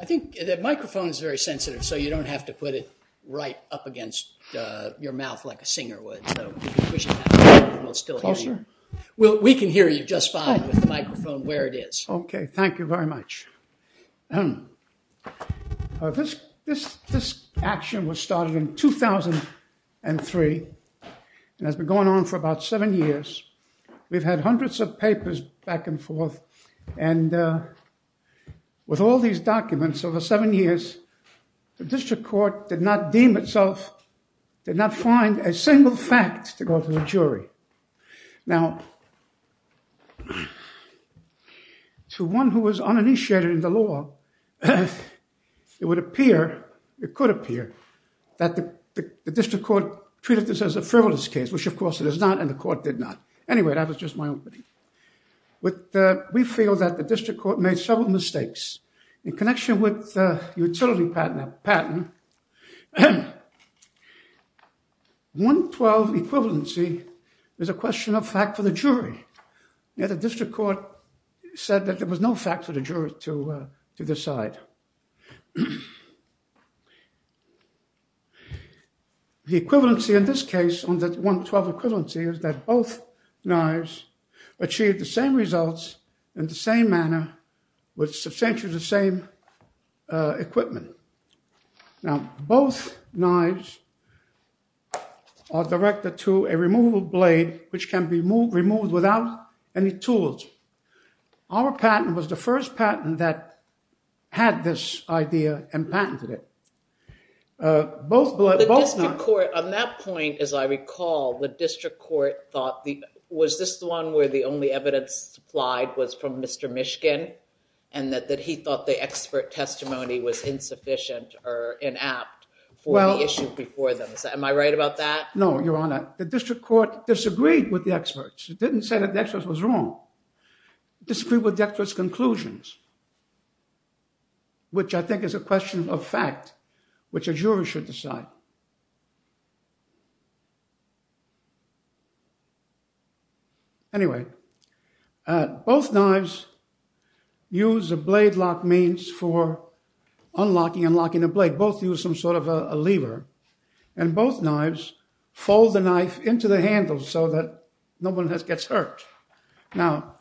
I think the microphone is very sensitive, so you don't have to put it right up against your mouth like a singer would. Well, we can hear you just fine with the microphone where it is. Okay. Thank you very much. This action was started in 2003 and has been going on for about seven years. We've had hundreds of papers back and forth and with all these documents over seven years, the district court did not deem itself, did not find a single fact to go to the jury. Now, to one who was uninitiated in the law, it would appear, it could appear, that the district court treated this as a frivolous case, which of course it is not, and the court did not. Anyway, that was just my opinion. But we feel that the district court made several mistakes. In connection with the utility patent, 112 equivalency is a question of fact for the jury, yet the district court said that there was no fact for the jury to decide. The equivalency in this case, on the 112 equivalency, is that both knives achieved the same results in the same manner with substantially the same equipment. Now, both knives are directed to a removable blade, which can be removed without any tools. had the ability to remove the blade. They had this idea and patented it. Both knives... The district court, on that point, as I recall, the district court thought, was this the one where the only evidence supplied was from Mr. Mishkin, and that he thought the expert testimony was insufficient or inapt for the issue before them? Am I right about that? No, Your Honor. The district court disagreed with the experts. It didn't say that the experts was wrong. It disagreed with the experts' conclusions. Which I think is a question of fact, which a jury should decide. Anyway, both knives use a blade lock means for unlocking and locking the blade. Both use some sort of a lever, and both knives fold the knife into the handle so that no one gets hurt. Now,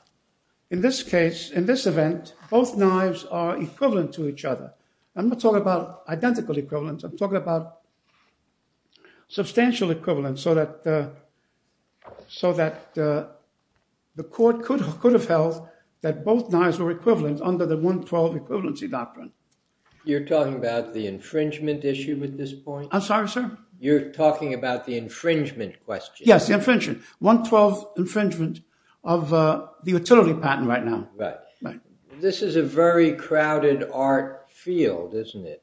in this case, in this event, both knives are equivalent to each other. I'm not talking about identical equivalents. I'm talking about substantial equivalents so that so that the court could have held that both knives were equivalent under the 112 equivalency doctrine. You're talking about the infringement issue at this point? I'm sorry, sir? You're talking about the infringement question? Yes, the infringement. 112 infringement of the utility patent right now. Right. This is a very crowded art field, isn't it?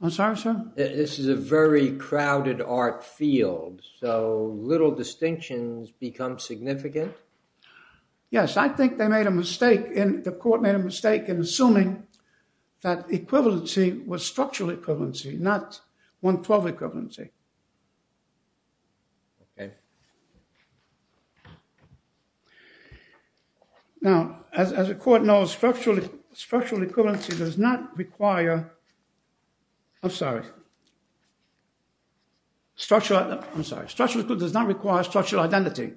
I'm sorry, sir? This is a very crowded art field, so little distinctions become significant? Yes, I think they made a mistake. The court made a mistake in assuming that equivalency was structural equivalency, not 112 equivalency. Okay. Now, as the court knows, structural equivalency does not require... I'm sorry. Structural... I'm sorry. Structural equivalency does not require structural identity.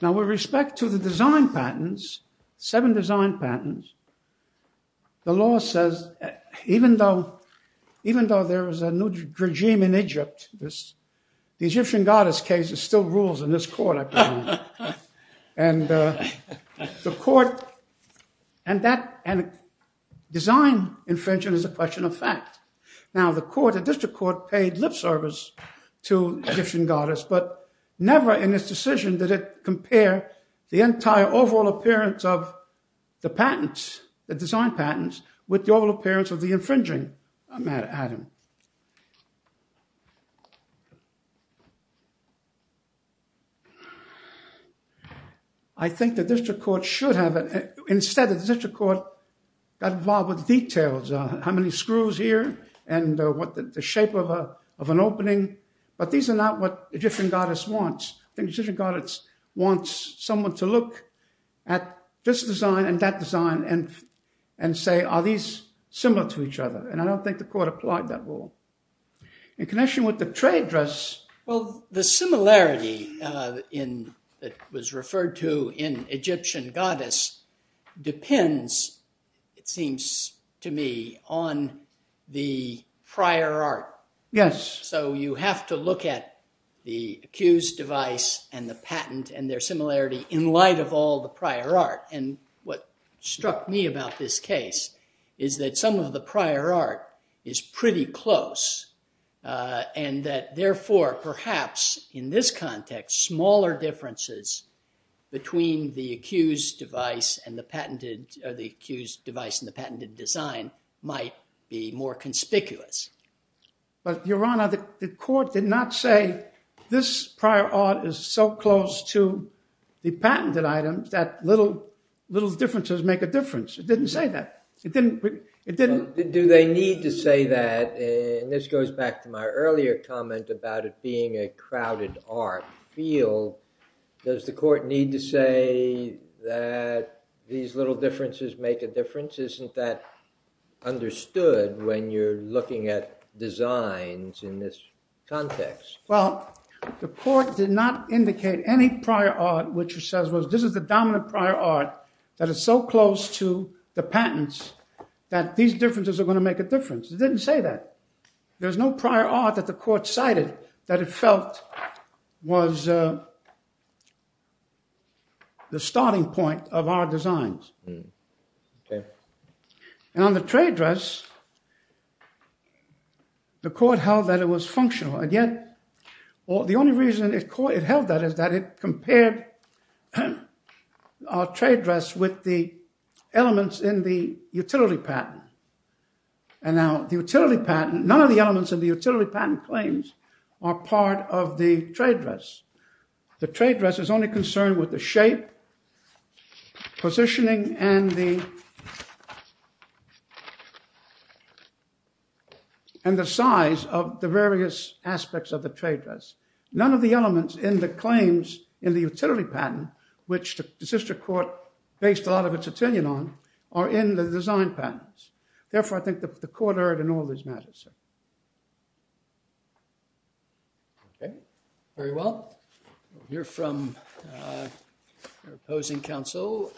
Now, with respect to the design patents, seven design patents, the law says, even though there is a new regime in Egypt, the Egyptian goddess case still rules in this court, I believe. And the court... and that... design infringement is a question of fact. Now, the court, the district court, paid lip service to Egyptian goddess, but never in this decision did it compare the entire overall appearance of the patents, the design patents, with the overall appearance of the infringing patent. I think the district court should have... Instead, the district court got involved with details, how many screws here and what the shape of an opening, but these are not what the Egyptian goddess wants. The Egyptian goddess wants someone to look at this design and that design and say, are these similar to each other? And I don't think the court applied that rule. In connection with the trade dress... Well, the similarity in... that was referred to in Egyptian goddess depends, it seems to me, on the prior art. Yes. So you have to look at the accused device and the patent and their similarity in light of all the prior art. And what struck me about this case is that some of the prior art is pretty close and that therefore, perhaps in this context, smaller differences between the accused device and the patented... or the accused device and the patented design might be more conspicuous. But, Your Honor, the court did not say this prior art is so close to the patented items that little differences make a difference. It didn't say that. It didn't... Do they need to say that? And this goes back to my earlier comment about it being a crowded art field. Does the court need to say that these little differences make a difference? Isn't that understood when you're looking at designs in this context? Well, the court did not indicate any prior art which says this is the dominant prior art that is so close to the patents that these differences are going to make a difference. It didn't say that. There's no prior art that the court cited that it felt was the starting point of our designs. Okay. And on the trade dress, the court held that it was functional and yet or the only reason it held that is that it compared our trade dress with the elements in the utility patent. And now the utility patent, none of the elements of the utility patent claims are part of the trade dress. The trade dress is only concerned with the shape, positioning, and the size of the various aspects of the trade dress. None of the elements in the claims in the utility patent, which the sister court based a lot of its opinion on, are in the design patents. Therefore, I think the court heard in all these matters. Okay, very well. We'll hear from your opposing counsel.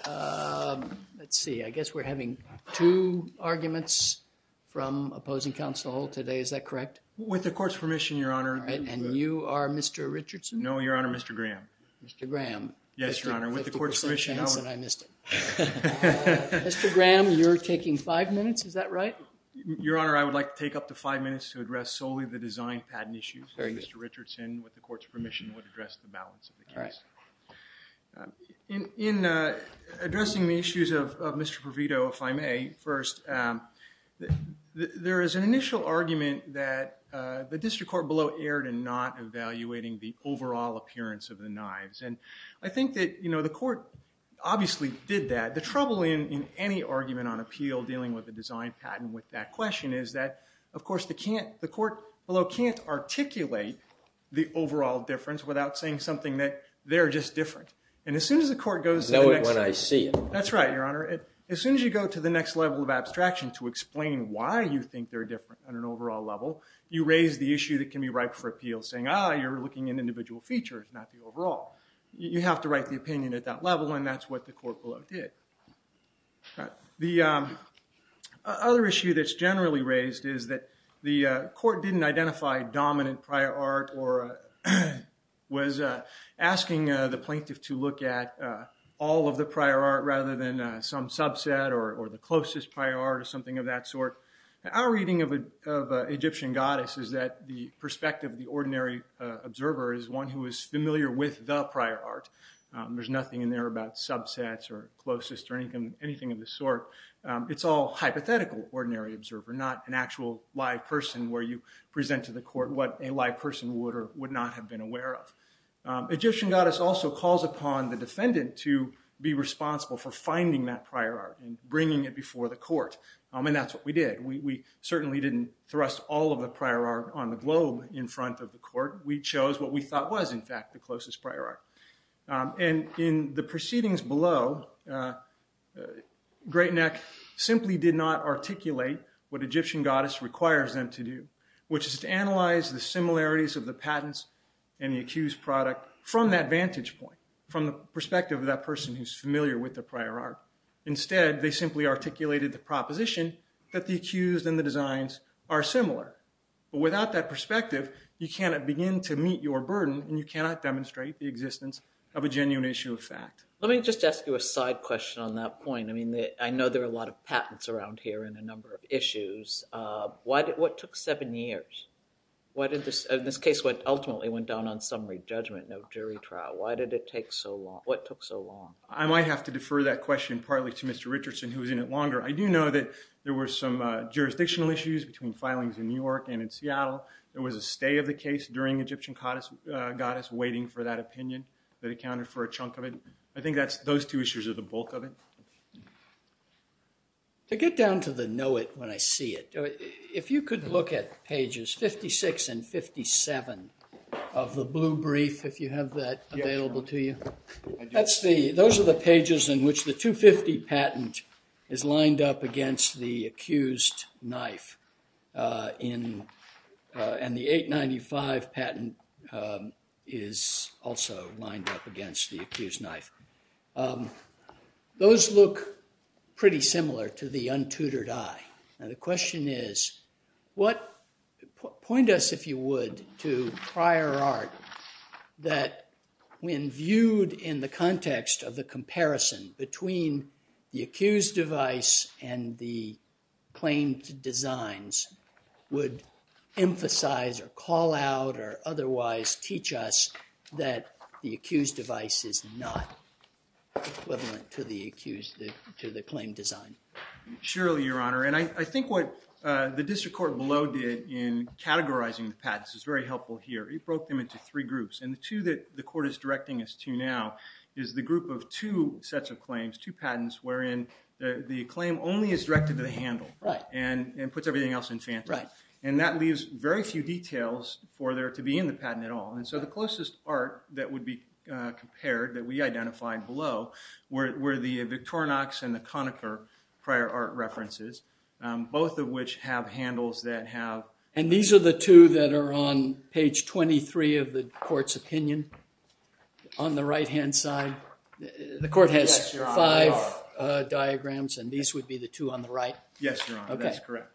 Let's see. I guess we're having two arguments from opposing counsel today. Is that correct? With the court's permission, your honor. All right, and you are Mr. Richardson? No, your honor, Mr. Graham. Mr. Graham. Yes, your honor. With the court's permission, I missed it. Mr. Graham, you're taking five minutes. Is that right? Your honor, I would like to take up to five minutes to address solely the design patent issues. Mr. Richardson, with the court's permission, would address the balance of the case. In addressing the issues of Mr. Provito, if I may, first, there is an initial argument that the district court below erred in not evaluating the overall appearance of the knives. And I think that, you know, the court obviously did that. The trouble in any argument on appeal dealing with the design patent with that question is that, of course, the court below can't articulate the overall difference without saying something that they're just different. And as soon as the court goes to the next level... explaining why you think they're different on an overall level, you raise the issue that can be ripe for appeal, saying, ah, you're looking at individual features, not the overall. You have to write the opinion at that level, and that's what the court below did. The other issue that's generally raised is that the court didn't identify dominant prior art or was asking the plaintiff to look at all of the prior art rather than some subset or the closest prior art or something of that sort. Our reading of Egyptian goddess is that the perspective of the ordinary observer is one who is familiar with the prior art. There's nothing in there about subsets or closest or anything of the sort. It's all hypothetical ordinary observer, not an actual live person where you present to the court what a live person would or would not have been aware of. Egyptian goddess also calls upon the defendant to be responsible for finding that prior art and bringing it before the court, and that's what we did. We certainly didn't thrust all of the prior art on the globe in front of the court. We chose what we thought was, in fact, the closest prior art. And in the proceedings below, Great Neck simply did not articulate what Egyptian goddess requires them to do, which is to analyze the similarities of the patents and the accused product from that vantage point, from the perspective of that person who's familiar with the prior art. Instead, they simply articulated the proposition that the accused and the designs are similar. But without that perspective, you cannot begin to meet your burden and you cannot demonstrate the existence of a genuine issue of fact. Let me just ask you a side question on that point. I mean, I know there are a lot of patents around here and a number of issues. What took seven years? Why did this case ultimately went down on summary judgment, no jury trial? Why did it take so long? What took so long? I might have to defer that question partly to Mr. Richardson, who was in it longer. I do know that there were some jurisdictional issues between filings in New York and in Seattle. There was a stay of the case during Egyptian goddess waiting for that opinion that accounted for a chunk of it. I think those two issues are the bulk of it. To get down to the know-it when I see it, if you could look at pages 56 and 57 of the blue brief, if you have that available to you. Those are the pages in which the 250 patent is lined up against the accused knife. And the 895 patent is also lined up against the accused knife. Those look pretty similar to the untutored eye. And the question is, point us, if you would, to prior art that when viewed in the context of the comparison between the accused device and the claimed designs would emphasize or call out or otherwise teach us that the accused device is not equivalent to the accused, to the claim design. Surely, your honor. And I think what the district court below did in categorizing the patents is very helpful here. It broke them into three groups. And the two that the court is directing us to now is the group of two sets of claims, two patents, wherein the claim only is directed to the handle and puts everything else in phantom. And that leaves very few details for there to be in the patent at all. And so the closest art that would be compared, that we identified below, were the Victorinox and the Conacher prior art references, both of which have handles that have... And these are the two that are on page 23 of the court's opinion on the right-hand side? The court has five diagrams and these would be the two on the right? Yes, your honor. That's correct.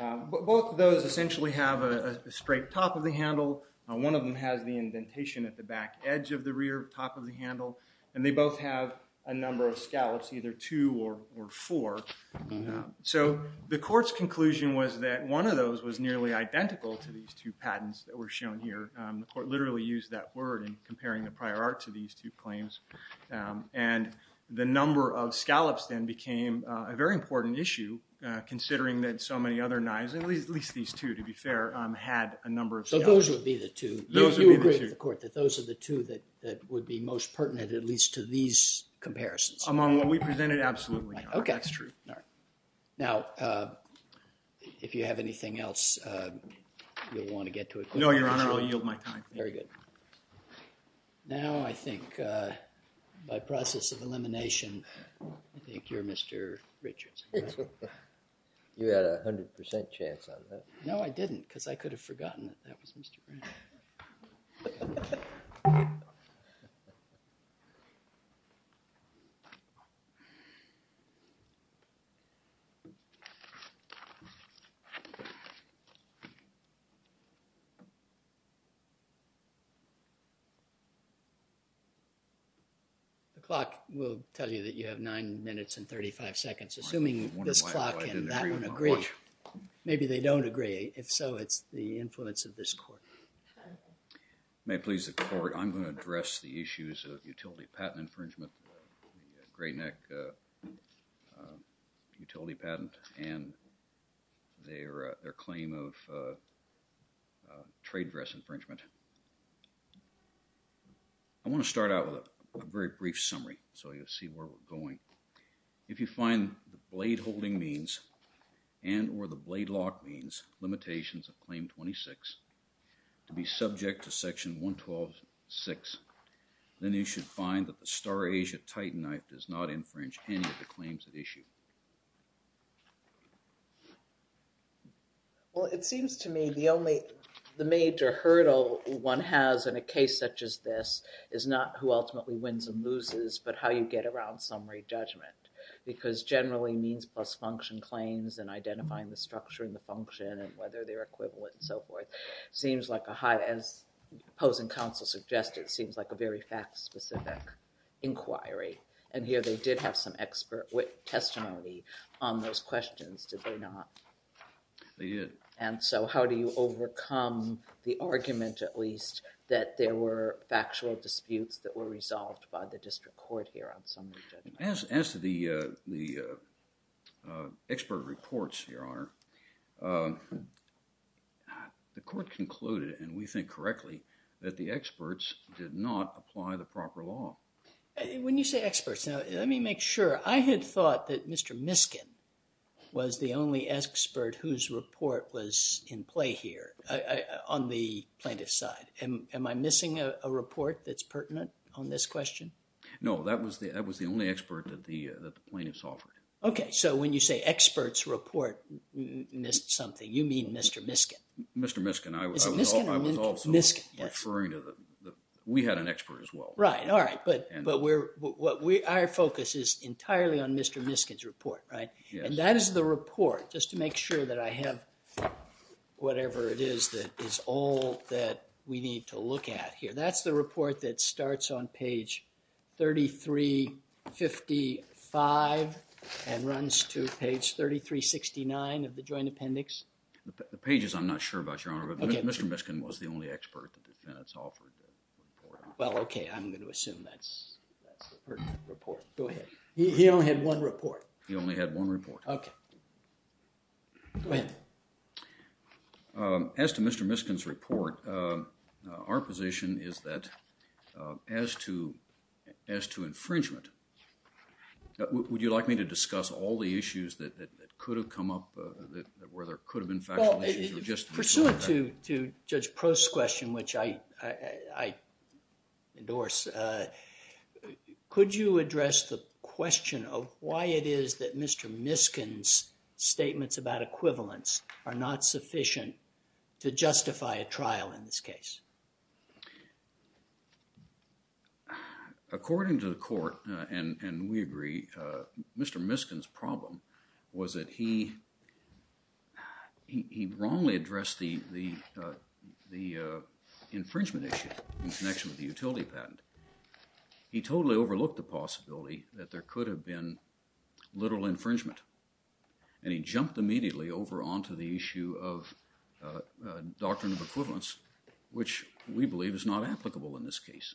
Both of those essentially have a straight top of the handle. One of them has the indentation at the back edge of the rear top of the handle. And they both have a number of scallops, either two or four. So the court's conclusion was that one of those was nearly identical to these two patents that were shown here. The court literally used that word in comparing the prior art to these two claims. And the number of scallops then became a very important issue, considering that so many other knives, at least these two to be fair, had a number of scallops. So those would be the two. You agree with the court that those are the two that would be most pertinent at least to these comparisons? Among what we presented, absolutely not. That's true. Now, if you have anything else, you'll want to get to it. No, your honor. I'll yield my time. Very good. Now I think, by process of elimination, I think you're Mr. Richards. You had a hundred percent chance on that. No, I didn't, because I could have forgotten that that was Mr. Brown. Okay. The clock will tell you that you have nine minutes and 35 seconds, assuming this clock and that one agree. Maybe they don't agree. If so, it's the influence of this court. May it please the court, I'm going to address the issues of utility patent infringement, the Grayneck utility patent, and their claim of trade dress infringement. I want to start out with a very brief summary, so you'll see where we're going. If you find the blade holding means and or the blade lock means limitations of claim 26 to be subject to section 112-6, then you should find that the Starasia Titanite does not infringe any of the claims at issue. Well, it seems to me the only, the major hurdle one has in a case such as this is not who ultimately wins and loses, but how you get around summary judgment. Because generally, means plus function claims and identifying the structure and the function and whether they're equivalent and so forth, seems like a high, as opposing counsel suggested, seems like a very fact specific inquiry and here they did have some expert testimony on those questions, did they not? They did. And so, how do you overcome the argument at least that there were factual disputes that were resolved by the district court here on summary judgment? As, as the, uh, the, uh, expert reports here are, um, uh, the court concluded, and we think correctly, that the experts did not apply the proper law. When you say experts, now, let me make sure. I had thought that Mr. Miskin was the only expert whose report was in play here, uh, on the plaintiff's side. Am, am I missing a report that's pertinent on this question? No, that was the, that was the only expert that the, that the plaintiffs offered. Okay, so when you say experts report missed something, you mean Mr. Miskin? Mr. Miskin, I was, I was also referring to the, we had an expert as well. Right, all right, but, but we're, what we, our focus is entirely on Mr. Miskin's report, right? And that is the report, just to make sure that I have whatever it is that is all that we need to look at here. That's the report that starts on page 3355 and runs to page 3369 of the joint appendix. The pages, I'm not sure about, Your Honor, but Mr. Miskin was the only expert the defendants offered. Well, okay, I'm going to assume that's, that's the pertinent report. Go ahead. He only had one report. He only had one report. Okay. Go ahead. Um, as to Mr. Miskin's report, uh, our position is that, uh, as to, as to infringement, would you like me to discuss all the issues that, that, that could have come up, uh, that, where there could have been factual issues or just... Well, pursuant to, to Judge Prost's question, which I, I, I, endorse, uh, could you address the question of why it is that Mr. Miskin's statements about equivalence are not sufficient to justify a trial in this case? Uh, according to the court, uh, and, and we agree, uh, Mr. Miskin's problem was that he, he, he wrongly addressed the, the, uh, the, uh, infringement issue in connection with the utility patent. He totally overlooked the possibility that there could have been literal infringement, and he jumped immediately over onto the issue of, uh, doctrine of equivalence, which we believe is not applicable in this case.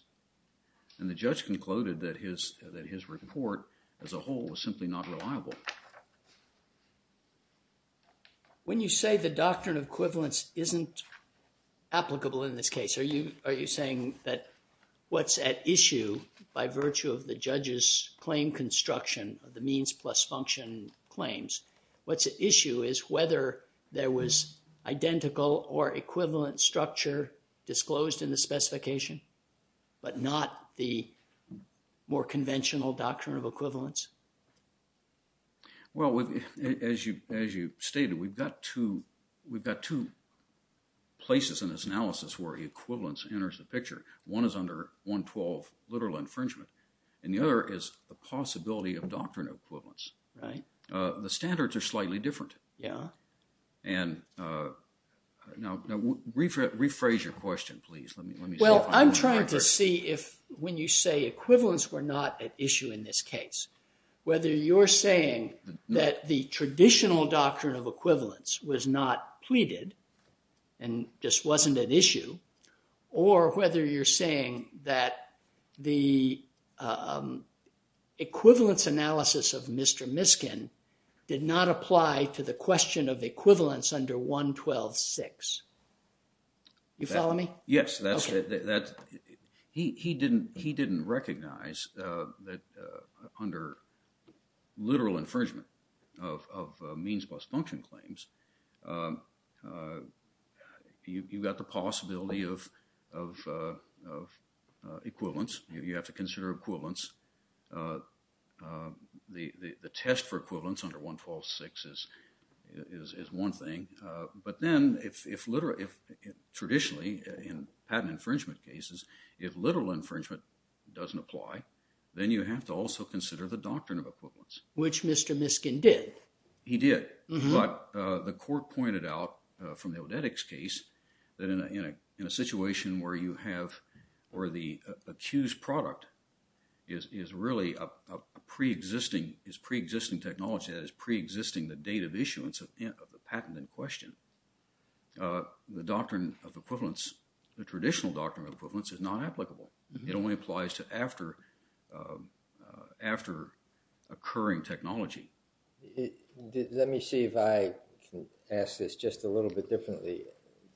And the judge concluded that his, that his report as a whole was simply not reliable. When you say the doctrine of equivalence isn't applicable in this case, are you, are you saying that what's at issue by virtue of the judge's claim construction of the means plus function claims, what's at issue is whether there was identical or equivalent structure disclosed in the specification, but not the more conventional doctrine of equivalence? Well, as you, as you stated, we've got two, we've got two places in this analysis where equivalence enters the picture. One is under 112 literal infringement, and the other is the possibility of doctrine of equivalence. Right. Uh, the standards are slightly different. Yeah. And, uh, no, no, rephrase your question, please. Let me, let me. Well, I'm trying to see if when you say equivalence were not an issue in this case, whether you're saying that the traditional doctrine of equivalence was not pleaded and just wasn't an issue, or whether you're saying that the, um, equivalence analysis of Mr. Miskin did not apply to the question of equivalence under 112-6. You follow me? Yes, that's, that's, he, he didn't, he didn't recognize, uh, that, uh, under literal infringement of, of, uh, means plus function claims, um, uh, you, you got the possibility of, of, uh, of, uh, equivalence. You have to consider equivalence. Uh, the, the, the test for equivalence under 112-6 is, is, is one thing. Uh, but then if, if literal, if traditionally in patent infringement cases, if literal infringement doesn't apply, then you have to also consider the doctrine of equivalence. Which Mr. Miskin did. He did. But, uh, the court pointed out, uh, from the Odetics case that in a, in a, in a situation where you have, or the accused product is, is really a, a pre-existing, is pre-existing technology, that is pre-existing the date of issuance of the patent in question, uh, the doctrine of equivalence, the traditional doctrine of equivalence, is not applicable. It only applies to after, uh, after occurring technology. Let me see if I can ask this just a little bit differently.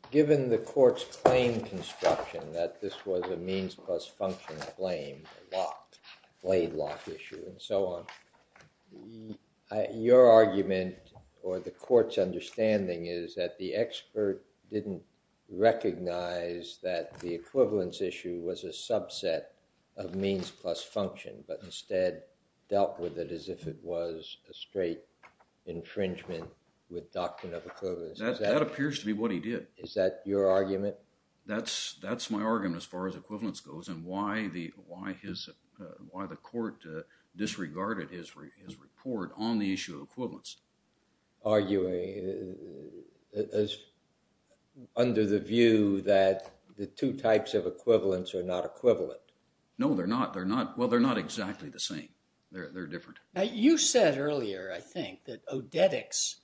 Given the court's claim construction that this was a means plus function claim, a lock, blade lock issue, and so on, your argument, or the court's understanding, is that the expert didn't recognize that the equivalence issue was a subset of means plus function, but instead dealt with it as if it was a straight infringement with doctrine of equivalence. That, that appears to be what he did. Is that your argument? That's, that's my argument as far as equivalence goes, and why the, why his, uh, why the court, uh, disregarded his, his report on the issue of equivalence. Arguing, uh, under the view that the two types of equivalence are not equivalent. No, they're not. They're not, well, they're not exactly the same. They're, they're different. Now, you said earlier, I think, that odetics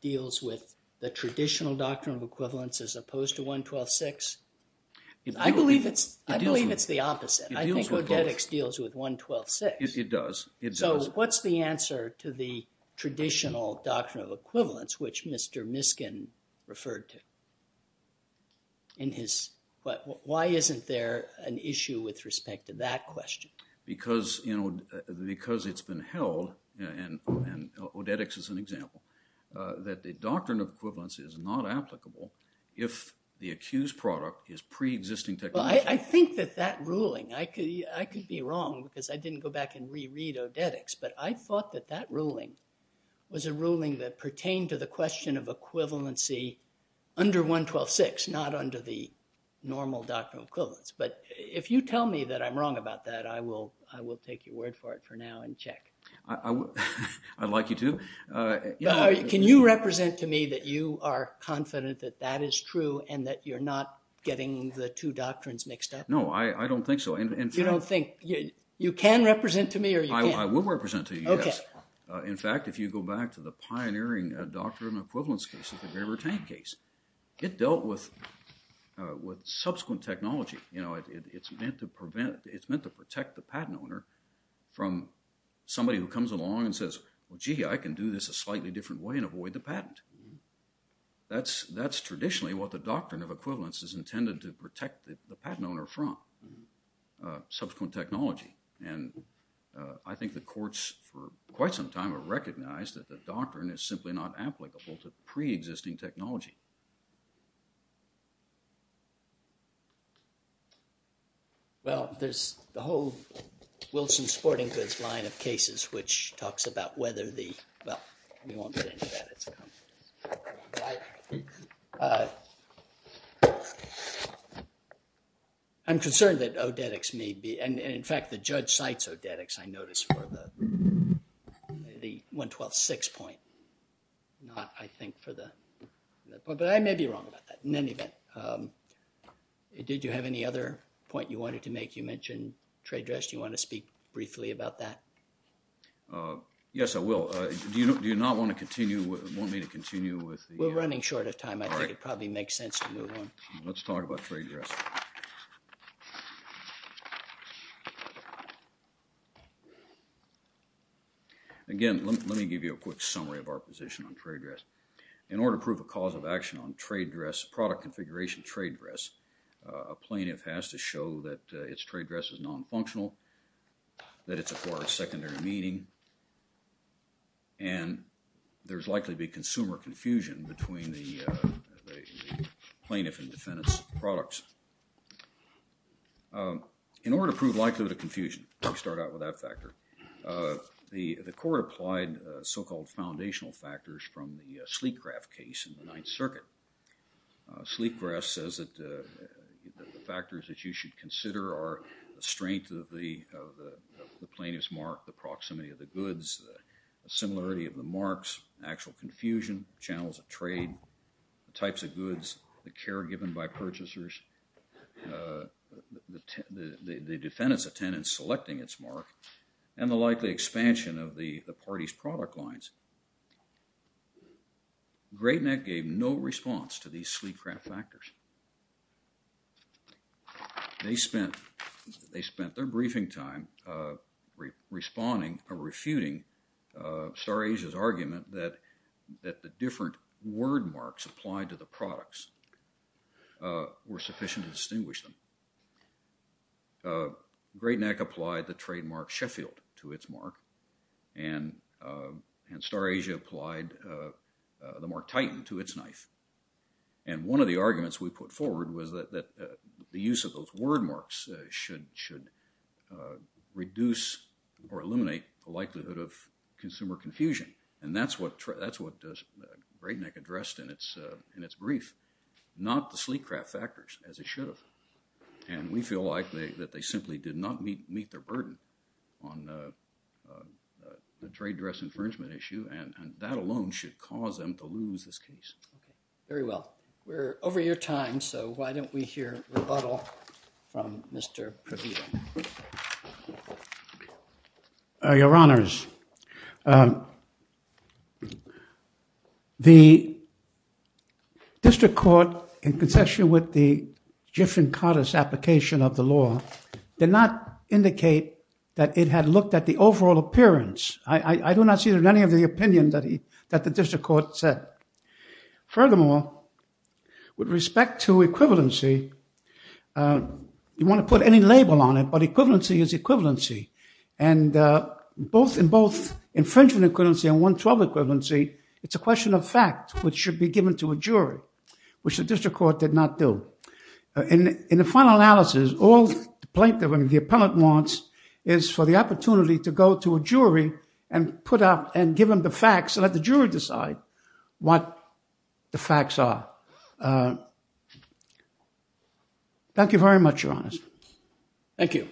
deals with the traditional doctrine of equivalence as opposed to 112.6. I believe it's, I believe it's the opposite. I think odetics deals with 112.6. It does, it does. So what's the answer to the traditional doctrine of equivalence, which Mr. Miskin referred to in his, but why isn't there an issue with respect to that question? Because, you know, because it's been held, and, and odetics is an example, that the doctrine of equivalence is not applicable if the accused product is pre-existing technology. I think that that ruling, I could, I could be wrong because I didn't go back and re-read odetics, but I thought that that ruling was a ruling that pertained to the question of equivalency under 112.6, not under the traditional doctrine of equivalence. So, if I'm wrong about that, I will, I will take your word for it for now and check. I would, I'd like you to. Can you represent to me that you are confident that that is true and that you're not getting the two doctrines mixed up? No, I, I don't think so. You don't think, you can represent to me or you can't? I will represent to you, yes. In fact, if you go back to the pioneering doctrine of equivalence case, the Graber-Tank case, it dealt with with subsequent technology, you know, it's meant to prevent, it's meant to protect the patent owner from somebody who comes along and says, well, gee, I can do this a slightly different way and avoid the patent. That's, that's traditionally what the doctrine of equivalence is intended to protect the patent owner from subsequent technology and I think the courts for quite some time have recognized that the doctrine is simply not applicable to pre-existing technology. Well, there's the whole Wilson-Sporting Goods line of cases which talks about whether the, well, we won't get into that, it's a complex story, but I'm concerned that I'm concerned that odetics may be, and in fact, the judge cites odetics, I noticed, for the the 112-6 point. Not, I think, for the, but I may be wrong about that. In any event, did you have any other point you wanted to make? You mentioned trade dress. Do you want to speak briefly about that? Yes, I will. Do you, do you not want to continue, want me to continue with? We're running short of time. I think it probably makes sense to move on. Let's talk about trade dress. Again, let me give you a quick summary of our position on trade dress. In order to prove a cause of action on trade dress, product configuration trade dress, a plaintiff has to show that its trade dress is non-functional, that it's a part of secondary meaning, and there's likely to be consumer confusion between the plaintiff and defendant's products. In order to prove likelihood of confusion, we start out with that factor. The court applied so-called foundational factors from the Sleekgraff case in the Ninth Circuit. Sleekgraff says that the factors that you should consider are the strength of the plaintiff's mark, the proximity of the goods, the similarity of the marks, actual confusion, channels of trade, the types of goods, the care given by purchasers, the defendant's attendance selecting its mark, and the likely expansion of the party's product lines. Great Neck gave no response to these Sleekgraff factors. They spent their briefing time responding or refuting Starej's argument that the different word marks applied to the products were sufficient to distinguish them. Great Neck applied the trademark Sheffield to its mark, and Starej applied the mark Titan to its knife. And one of the arguments we put forward was that the use of those word marks should reduce or eliminate the likelihood of consumer confusion, and that's what Great Neck addressed in its brief. Not the Sleekgraff factors, as it should have. And we feel likely that they simply did not meet their burden on the trade dress infringement issue, and that alone should cause them to lose this case. Very well. We're over your time. So why don't we hear rebuttal from Mr. Previta? Your honors, the application of the law did not indicate that it had looked at the overall appearance. I do not see that in any of the opinion that the district court said. Furthermore, with respect to equivalency, you want to put any label on it, but equivalency is equivalency, and both in both infringement equivalency and 112 equivalency, it's a question of fact, which should be given to a jury, which the district court did not do. In the final analysis, all the plaintiff and the appellant wants is for the opportunity to go to a jury and put up and give them the facts and let the jury decide what the facts are. Thank you very much, your honors. Thank you.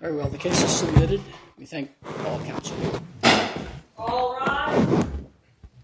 Very well, the case is submitted. We thank all counsel.